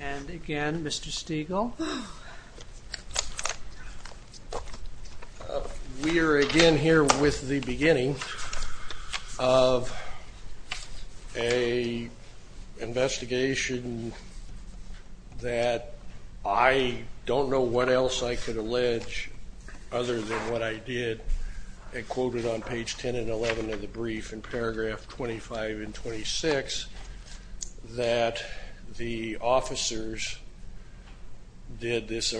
And again, Mr. Stegall. We are again here with the beginning of a investigation that I don't know what else I could allege other than what I did and quoted on page 10 and 11 of the brief in paragraph 25 and 26 that the officers did this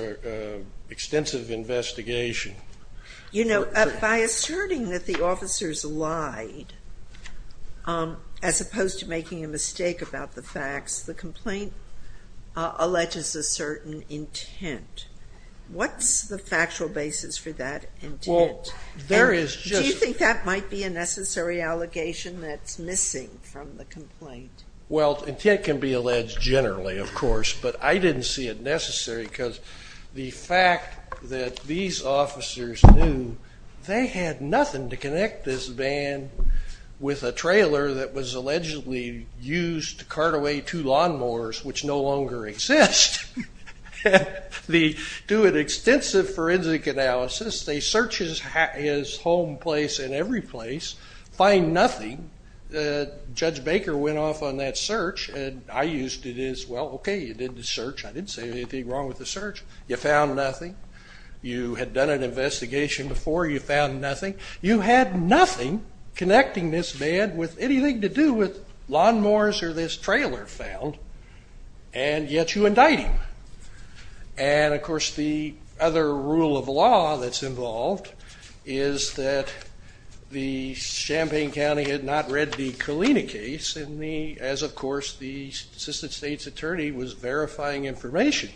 extensive investigation. You know, by asserting that the officers lied, as opposed to making a mistake about the facts, the complaint alleges a certain intent. What's the factual basis for that intent? Do you think that might be a necessary allegation that's missing from the complaint? Well, intent can be alleged generally, of course, but I didn't see it necessary because the fact that these officers knew they had nothing to connect this van with a trailer that was allegedly used to cart away two lawnmowers, which no longer exist. They do an extensive forensic analysis. They search his home place and every place, find nothing. Judge Baker went off on that search and I used it as, well, okay, you did the search. I didn't say anything wrong with the search. You found nothing. You had done an investigation before. You found nothing. You had nothing connecting this van with anything to do with lawnmowers or this trailer found, and yet you indict him. And, of course, the other rule of law that's involved is that the Champaign County had not read the Colina case as, of course, the Assistant State's Attorney was verifying information.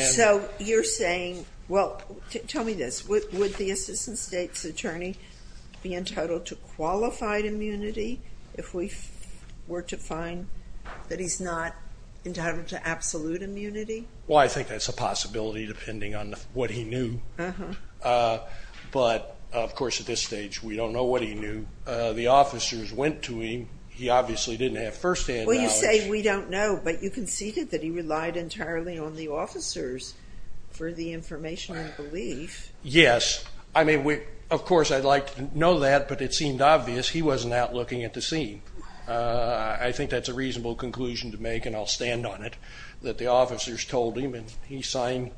So you're saying, well, tell me this, would the Assistant State's Attorney be entitled to qualified immunity if we were to find that he's not entitled to absolute immunity? Well, I think that's a possibility depending on what he knew. But, of course, at this stage we don't know what he knew. The officers went to him. He obviously didn't have first-hand knowledge. Well, you say we don't know, but you conceded that he relied entirely on the officers for the information and belief. Yes. Of course, I'd like to know that, but it seemed obvious he wasn't out looking at the scene. I think that's a reasonable conclusion to make, and I'll stand on it, that the officers told him, and he signed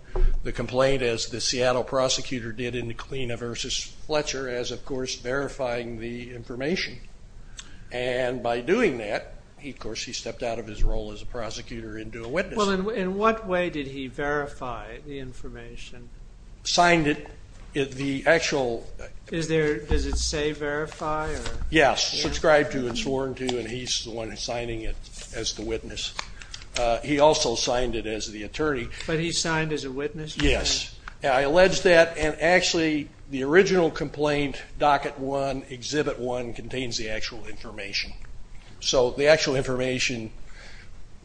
the complaint as the Seattle prosecutor did in the Colina v. Fletcher as, of course, verifying the information. And by doing that, of course, he stepped out of his role as a prosecutor into a witness. Well, in what way did he verify the information? Signed it. The actual... Does it say verify? Yes. Subscribed to and sworn to, and he's the one signing it as the witness. He also signed it as the attorney. But he signed as a witness? Yes. I allege that. And actually, the original complaint, Docket 1, Exhibit 1, contains the actual information. So the actual information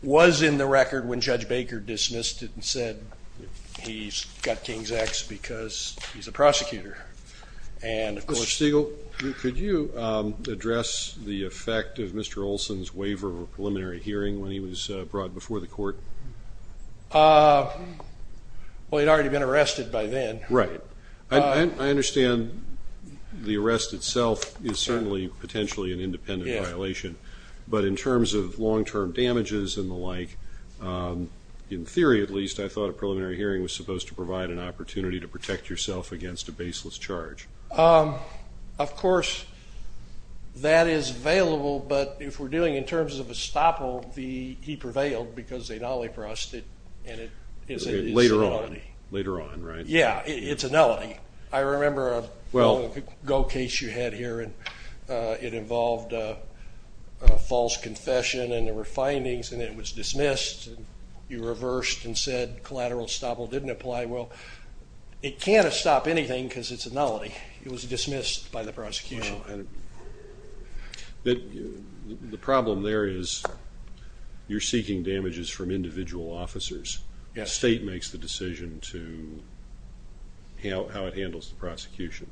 was in the record when Judge Baker dismissed it and said he's got King's X because he's a prosecutor. And of course... Mr. Stegall, could you address the effect of Mr. Olson's waiver of a preliminary hearing when he was brought before the court? Well, he'd already been arrested by then. Right. I understand the arrest itself is certainly potentially an independent violation. But in terms of long-term damages and the like, in theory, at least, I thought a preliminary hearing was supposed to provide an opportunity to protect yourself against a baseless charge. Of course, that is available. But if we're dealing in terms of estoppel, he prevailed because they not only pressed it, and it is a nullity. Later on, right? Yeah, it's a nullity. I remember a GO case you had here. It involved a false confession and there were findings and it was dismissed. You reversed and said collateral estoppel didn't apply. Well, it can't have stopped anything because it's a nullity. It was dismissed by the prosecution. The problem there is you're seeking damages from individual officers. The state makes the decision to how it handles the prosecution.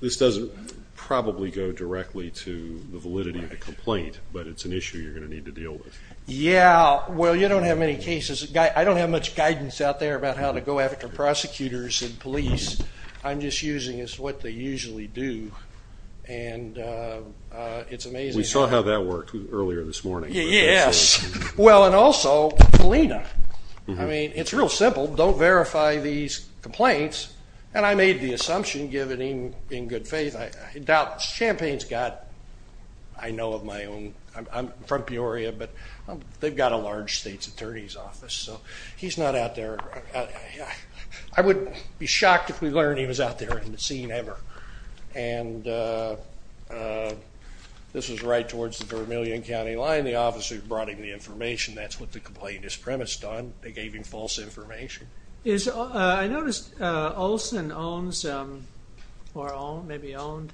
This doesn't probably go directly to the validity of the complaint, but it's an issue you're going to need to deal with. Yeah. Well, you don't have many cases. I don't have much guidance out there about how to go after prosecutors and police. I'm just using what they usually do. It's amazing. We saw how that worked earlier this morning. Yes. Well, and also, Felina. I mean, it's real simple. Don't verify these complaints. And I made the assumption, give it in good faith. Champaign's got, I know of my own, I'm from Peoria, but they've got a large state's attorney's office. So he's not out there. I would be shocked if we learned he was out there in the scene ever. And this was right after the officers brought him the information. That's what the complaint is premised on. They gave him false information. I noticed Olson owns, or maybe owned,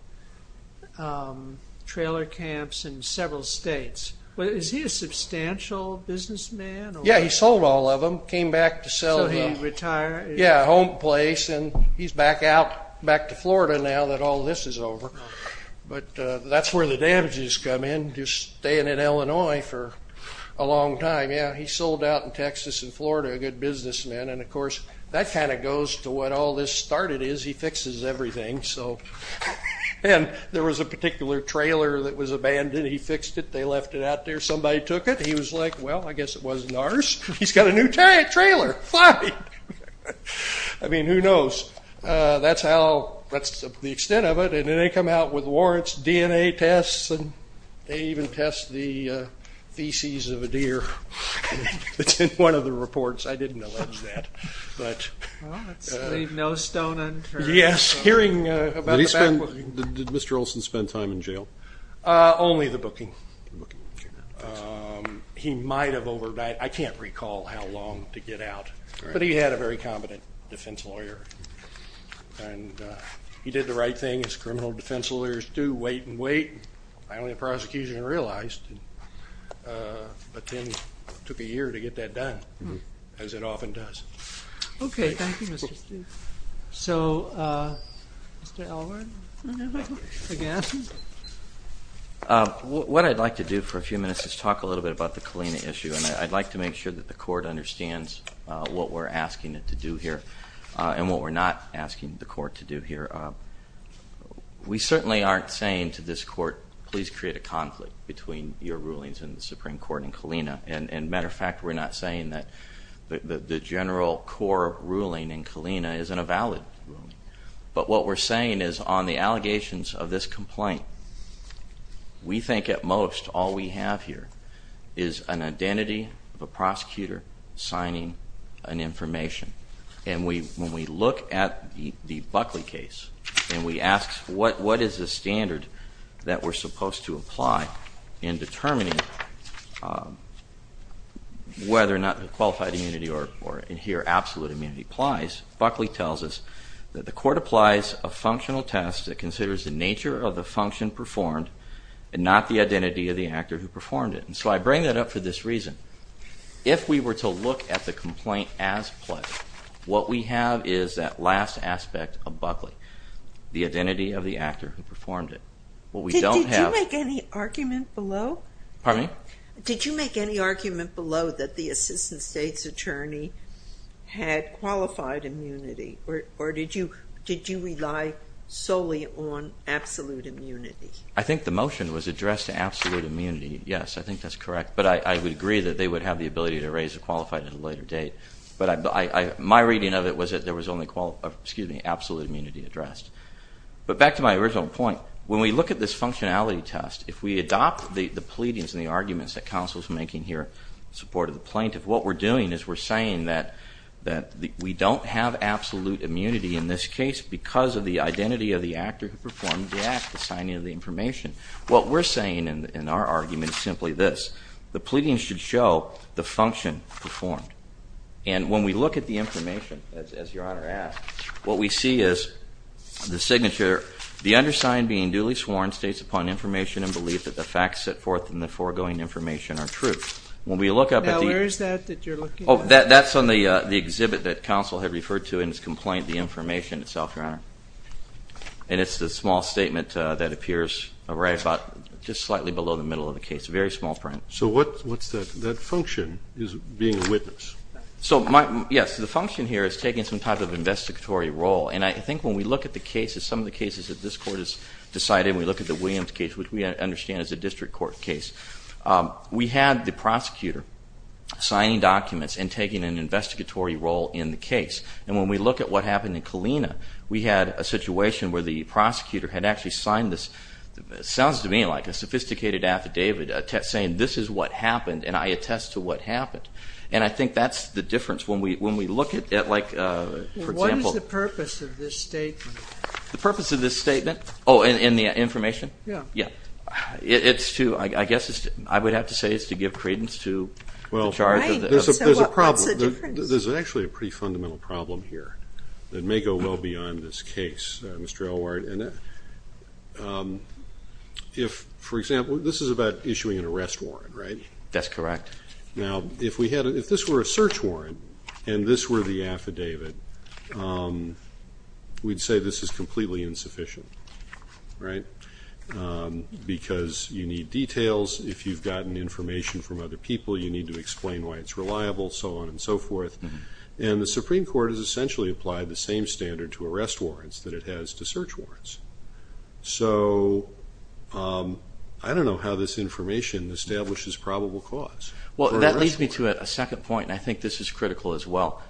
trailer camps in several states. Is he a substantial businessman? Yeah. He sold all of them. Came back to sell them. So he retired. Yeah. Home place. And he's back out, back to Florida now that all this is over. But that's where the damages come in. Just staying in Illinois for a long time. Yeah. He sold out in Texas and Florida. A good businessman. And of course, that kind of goes to what all this started is. He fixes everything. So, and there was a particular trailer that was abandoned. He fixed it. They left it out there. Somebody took it. He was like, well, I guess it wasn't ours. He's got a new trailer. Fine. I mean, who knows? That's how, that's the DNA tests. And they even test the feces of a deer. That's in one of the reports. I didn't allege that, but. Well, let's leave no stone unturned. Yes. Hearing about the back booking. Did he spend, did Mr. Olson spend time in jail? Only the booking. He might have over, I can't recall how long to get out. But he had a very competent defense lawyer. And he did the right thing. As criminal defense lawyers do, wait and wait. Finally, the prosecution realized. But then it took a year to get that done, as it often does. Okay. Thank you, Mr. Steele. So, Mr. Elwood, again. What I'd like to do for a few minutes is talk a little bit about the Kalina issue. And I'd like to make sure that the court understands what we're asking it to do here and what we're not asking the court to do here. We certainly aren't saying to this court, please create a conflict between your rulings in the Supreme Court and Kalina. And matter of fact, we're not saying that the general core ruling in Kalina isn't a valid ruling. But what we're saying is on the allegations of this complaint, we think at most, all we have here is an identity of a prosecutor signing an information. And when we look at the Buckley case and we ask, what is the standard that we're supposed to apply in determining whether or not the qualified immunity or in here absolute immunity applies, Buckley tells us that the court applies a functional test that considers the nature of the function performed and not the identity of the actor who performed it. And so I bring that up for this reason. If we were to look at the complaint as a play, what we have is that last aspect of Buckley, the identity of the actor who performed it. What we don't have- Did you make any argument below? Pardon me? Did you make any argument below that the assistant state's attorney had qualified immunity or did you rely solely on absolute immunity? I think the motion was addressed to absolute immunity. Yes, I think that's correct. But I would agree that they would have the ability to raise a qualified at a later date. But my reading of it was that there was only absolute immunity addressed. But back to my original point, when we look at this functionality test, if we adopt the pleadings and the arguments that counsel's making here in support of the plaintiff, what we're doing is we're saying that we don't have absolute immunity in this case because of the identity of the actor who performed the act, the signing of the information. What we're saying in our argument is simply this. The pleadings should show the function performed. And when we look at the information, as Your Honor asked, what we see is the signature, the undersigned being duly sworn, states upon information and belief that the facts set forth in the foregoing information are true. When we look up at the- Now, where is that that you're looking at? That's on the exhibit that counsel had referred to in his complaint, the information itself, Your Honor. And it's the small statement that appears right about just slightly below the middle of the case, a very small print. So what's that? That function is being a witness. So yes, the function here is taking some type of investigatory role. And I think when we look at the cases, some of the cases that this Court has decided, we look at the Williams case, which we understand is a district court case. We had the prosecutor signing documents and taking an investigatory role in the case. And when we look at what happened in Kalina, we had a situation where the prosecutor had actually signed this, sounds to me like a sophisticated affidavit, saying this is what happened and I attest to what happened. And I think that's the difference. When we look at, like, for example- What is the purpose of this statement? The purpose of this statement? Oh, in the information? Yeah. Yeah. It's to, I guess, I would have to say it's to give credence to the charge of the- Right, so what's the difference? There's a problem. There's actually a pretty fundamental problem here that may go well beyond this case, Mr. Elward. If, for example, this is about issuing an arrest warrant, right? That's correct. Now, if we had, if this were a search warrant and this were the affidavit, we'd say this is completely insufficient, right? Because you need details, if you've gotten information from other people, you need to explain why it's reliable, so on and so forth. And the Supreme Court has essentially applied the same standard to arrest warrants that it has to search warrants. So, I don't know how this information establishes probable cause. Well, that leads me to a second point, and I think this is critical as well.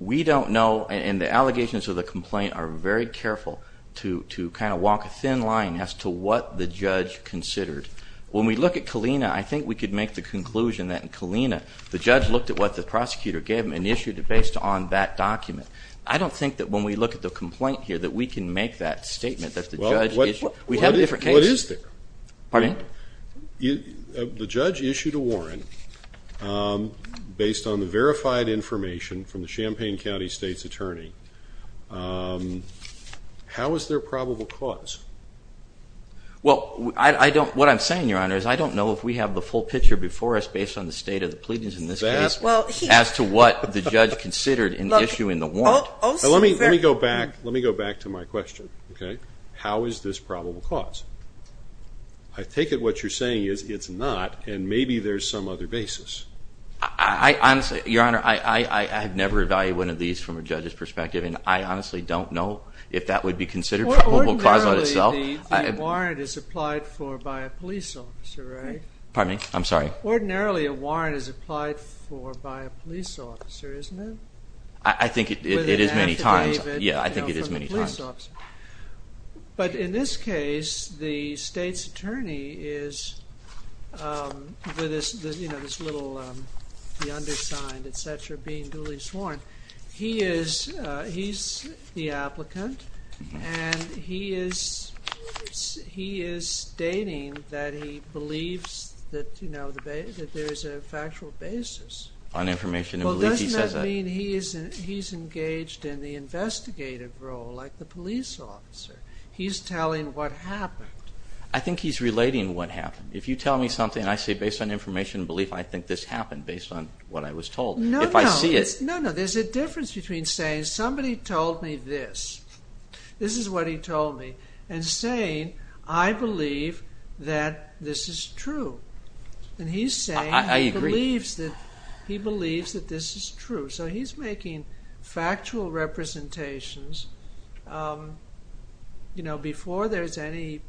We don't know, and the allegations of the complaint are very careful to kind of walk a thin line as to what the judge considered. When we look at Kalina, I think we could make the conclusion that in Kalina, the judge looked at what the prosecutor gave him and issued it based on that document. I don't think that when we look at the complaint here that we can make that statement that the judge issued- Well, what is- We have a different case. What is there? Pardon? The judge issued a warrant based on the verified information from the Champaign County State's Well, what I'm saying, Your Honor, is I don't know if we have the full picture before us based on the state of the pleadings in this case as to what the judge considered in issuing the warrant. Let me go back to my question, okay? How is this probable cause? I take it what you're saying is it's not, and maybe there's some other basis. I honestly, Your Honor, I have never evaluated one of these from a judge's perspective, and I honestly don't know if that would be considered probable cause by itself. The warrant is applied for by a police officer, right? Pardon me? I'm sorry? Ordinarily, a warrant is applied for by a police officer, isn't it? I think it is many times. Yeah, I think it is many times. But in this case, the state's attorney is, with this, you know, this little, the undersigned, et cetera, being duly sworn, he is, he's the applicant, and he is stating that he believes that, you know, that there is a factual basis. On information and belief, he says that. Well, doesn't that mean he's engaged in the investigative role, like the police officer? He's telling what happened. I think he's relating what happened. If you tell me something, and I say, based on information and belief, I think this happened, based on what I was told. No, no. If I see it. No, no. There's a difference between saying, somebody told me this, this is what he told me, and saying, I believe that this is true. And he's saying, he believes that this is true. So he's making factual representations, you know, before there's any,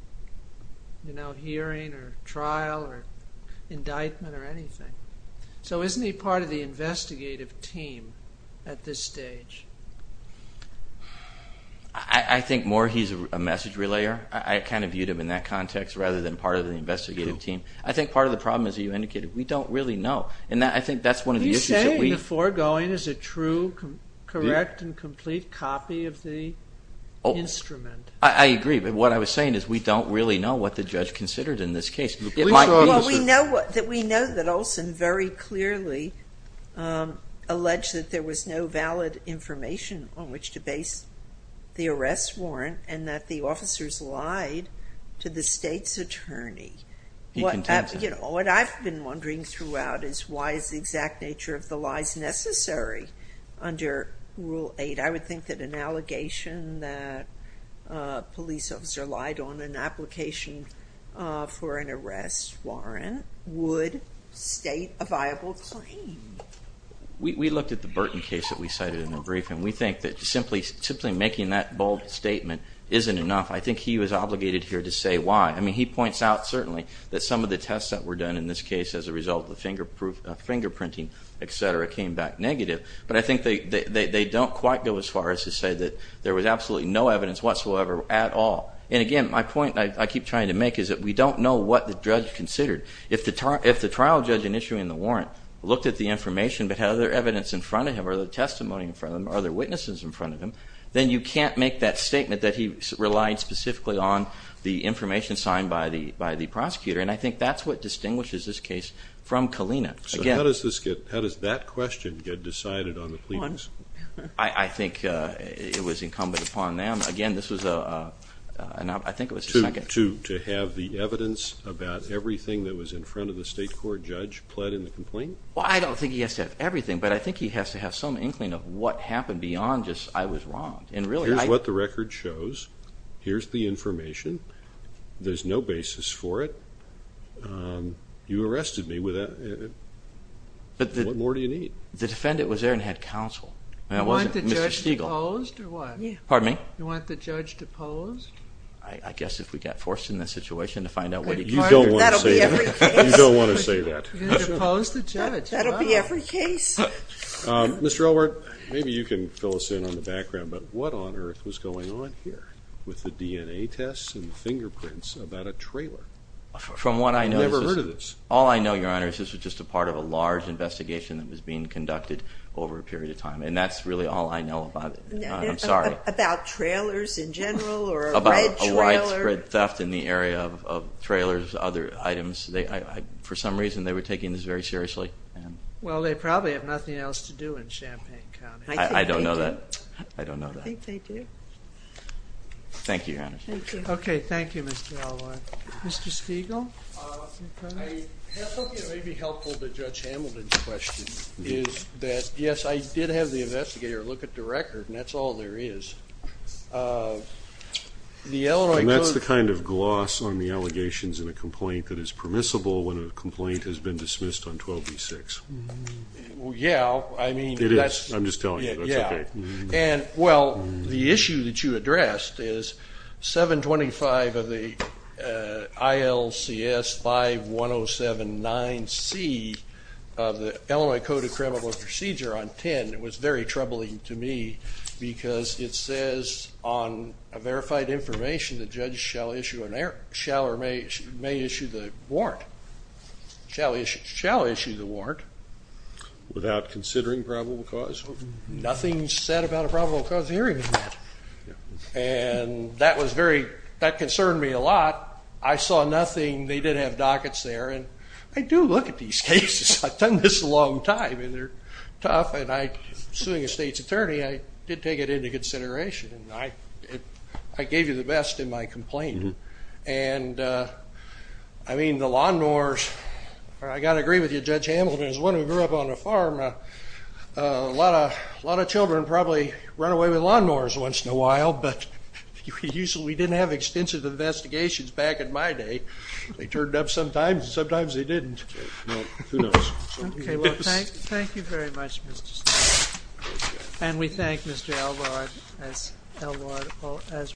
you know, hearing or trial or indictment or anything. So isn't he part of the investigative team at this stage? I think more he's a message relayer. I kind of viewed him in that context, rather than part of the investigative team. I think part of the problem, as you indicated, we don't really know. And I think that's one of the issues that we. Are you saying the foregoing is a true, correct and complete copy of the instrument? I agree. But what I was saying is, we don't really know what the judge considered in this case. Well, we know that Olson very clearly alleged that there was no valid information on which to base the arrest warrant, and that the officers lied to the state's attorney. He continued to. You know, what I've been wondering throughout is, why is the exact nature of the lies necessary under Rule 8? I would think that an allegation that a police officer lied on an application for an arrest warrant would state a viable claim. We looked at the Burton case that we cited in the brief, and we think that simply making that bold statement isn't enough. I think he was obligated here to say why. I mean, he points out, certainly, that some of the tests that were done in this case as a result of the fingerprinting, et cetera, came back negative. But I think they don't quite go as far as to say that there was absolutely no evidence whatsoever at all. And again, my point that I keep trying to make is that we don't know what the judge considered. If the trial judge in issuing the warrant looked at the information but had other evidence in front of him, or other testimony in front of him, or other witnesses in front of him, then you can't make that statement that he relied specifically on the information signed by the prosecutor. And I think that's what distinguishes this case from Kalina. So how does that question get decided on the pleadings? I think it was incumbent upon them. Again, this was a, and I think it was a second... To have the evidence about everything that was in front of the state court judge pled in the complaint? Well, I don't think he has to have everything, but I think he has to have some inkling of what happened beyond just, I was wrong. And really, I... Here's what the record shows. Here's the information. There's no basis for it. You arrested me. What more do you need? The defendant was there and had counsel. You want the judge deposed, or what? Pardon me? You want the judge deposed? I guess if we got forced in this situation to find out what he considered. You don't want to say that. That'll be every case. You don't want to say that. You're going to depose the judge. That'll be every case. Mr. Elwort, maybe you can fill us in on the background, but what on earth was going on here with the DNA tests and the fingerprints about a trailer? From what I know... I've never heard of this. All I know, Your Honor, is this was just a part of a large investigation that was being conducted over a period of time, and that's really all I know about it. I'm sorry. About trailers in general, or a red trailer? About a widespread theft in the area of trailers, other items. For some reason, they were taking this very seriously. Well, they probably have nothing else to do in Champaign County. I don't know that. I think they do. I don't know that. I think they do. Thank you, Your Honor. Thank you. Okay, thank you, Mr. Elwort. Mr. Spiegel? I hope it may be helpful to Judge Hamilton's question, is that, yes, I did have the investigator look at the record, and that's all there is. The Illinois Code... And that's the kind of gloss on the allegations in a complaint that is permissible when a complaint has been dismissed on 12b-6. Yeah, I mean... It is. I'm just telling you. That's okay. And, well, the issue that you addressed is 725 of the ILCS 51079C of the Illinois Code of Criminal Procedure on 10, it was very troubling to me because it says on verified information the judge shall issue an error, shall or may issue the warrant, shall issue the warrant. Without considering probable cause? Nothing's said about a probable cause of hearing in that. And that was very... That concerned me a lot. I saw nothing. They didn't have dockets there, and I do look at these cases. I've done this a long time, and they're tough, and I, suing a state's attorney, I did take it into consideration, and I gave you the best in my complaint. And I mean, the lawnmowers, I got to agree with you, Judge Hamilton, as one who grew up on a farm, a lot of children probably run away with lawnmowers once in a while, but we didn't have extensive investigations back in my day. They turned up sometimes, and sometimes they didn't. Well, who knows? Okay, well, thank you very much, Mr. Steele. And we thank Mr. Elrod as well.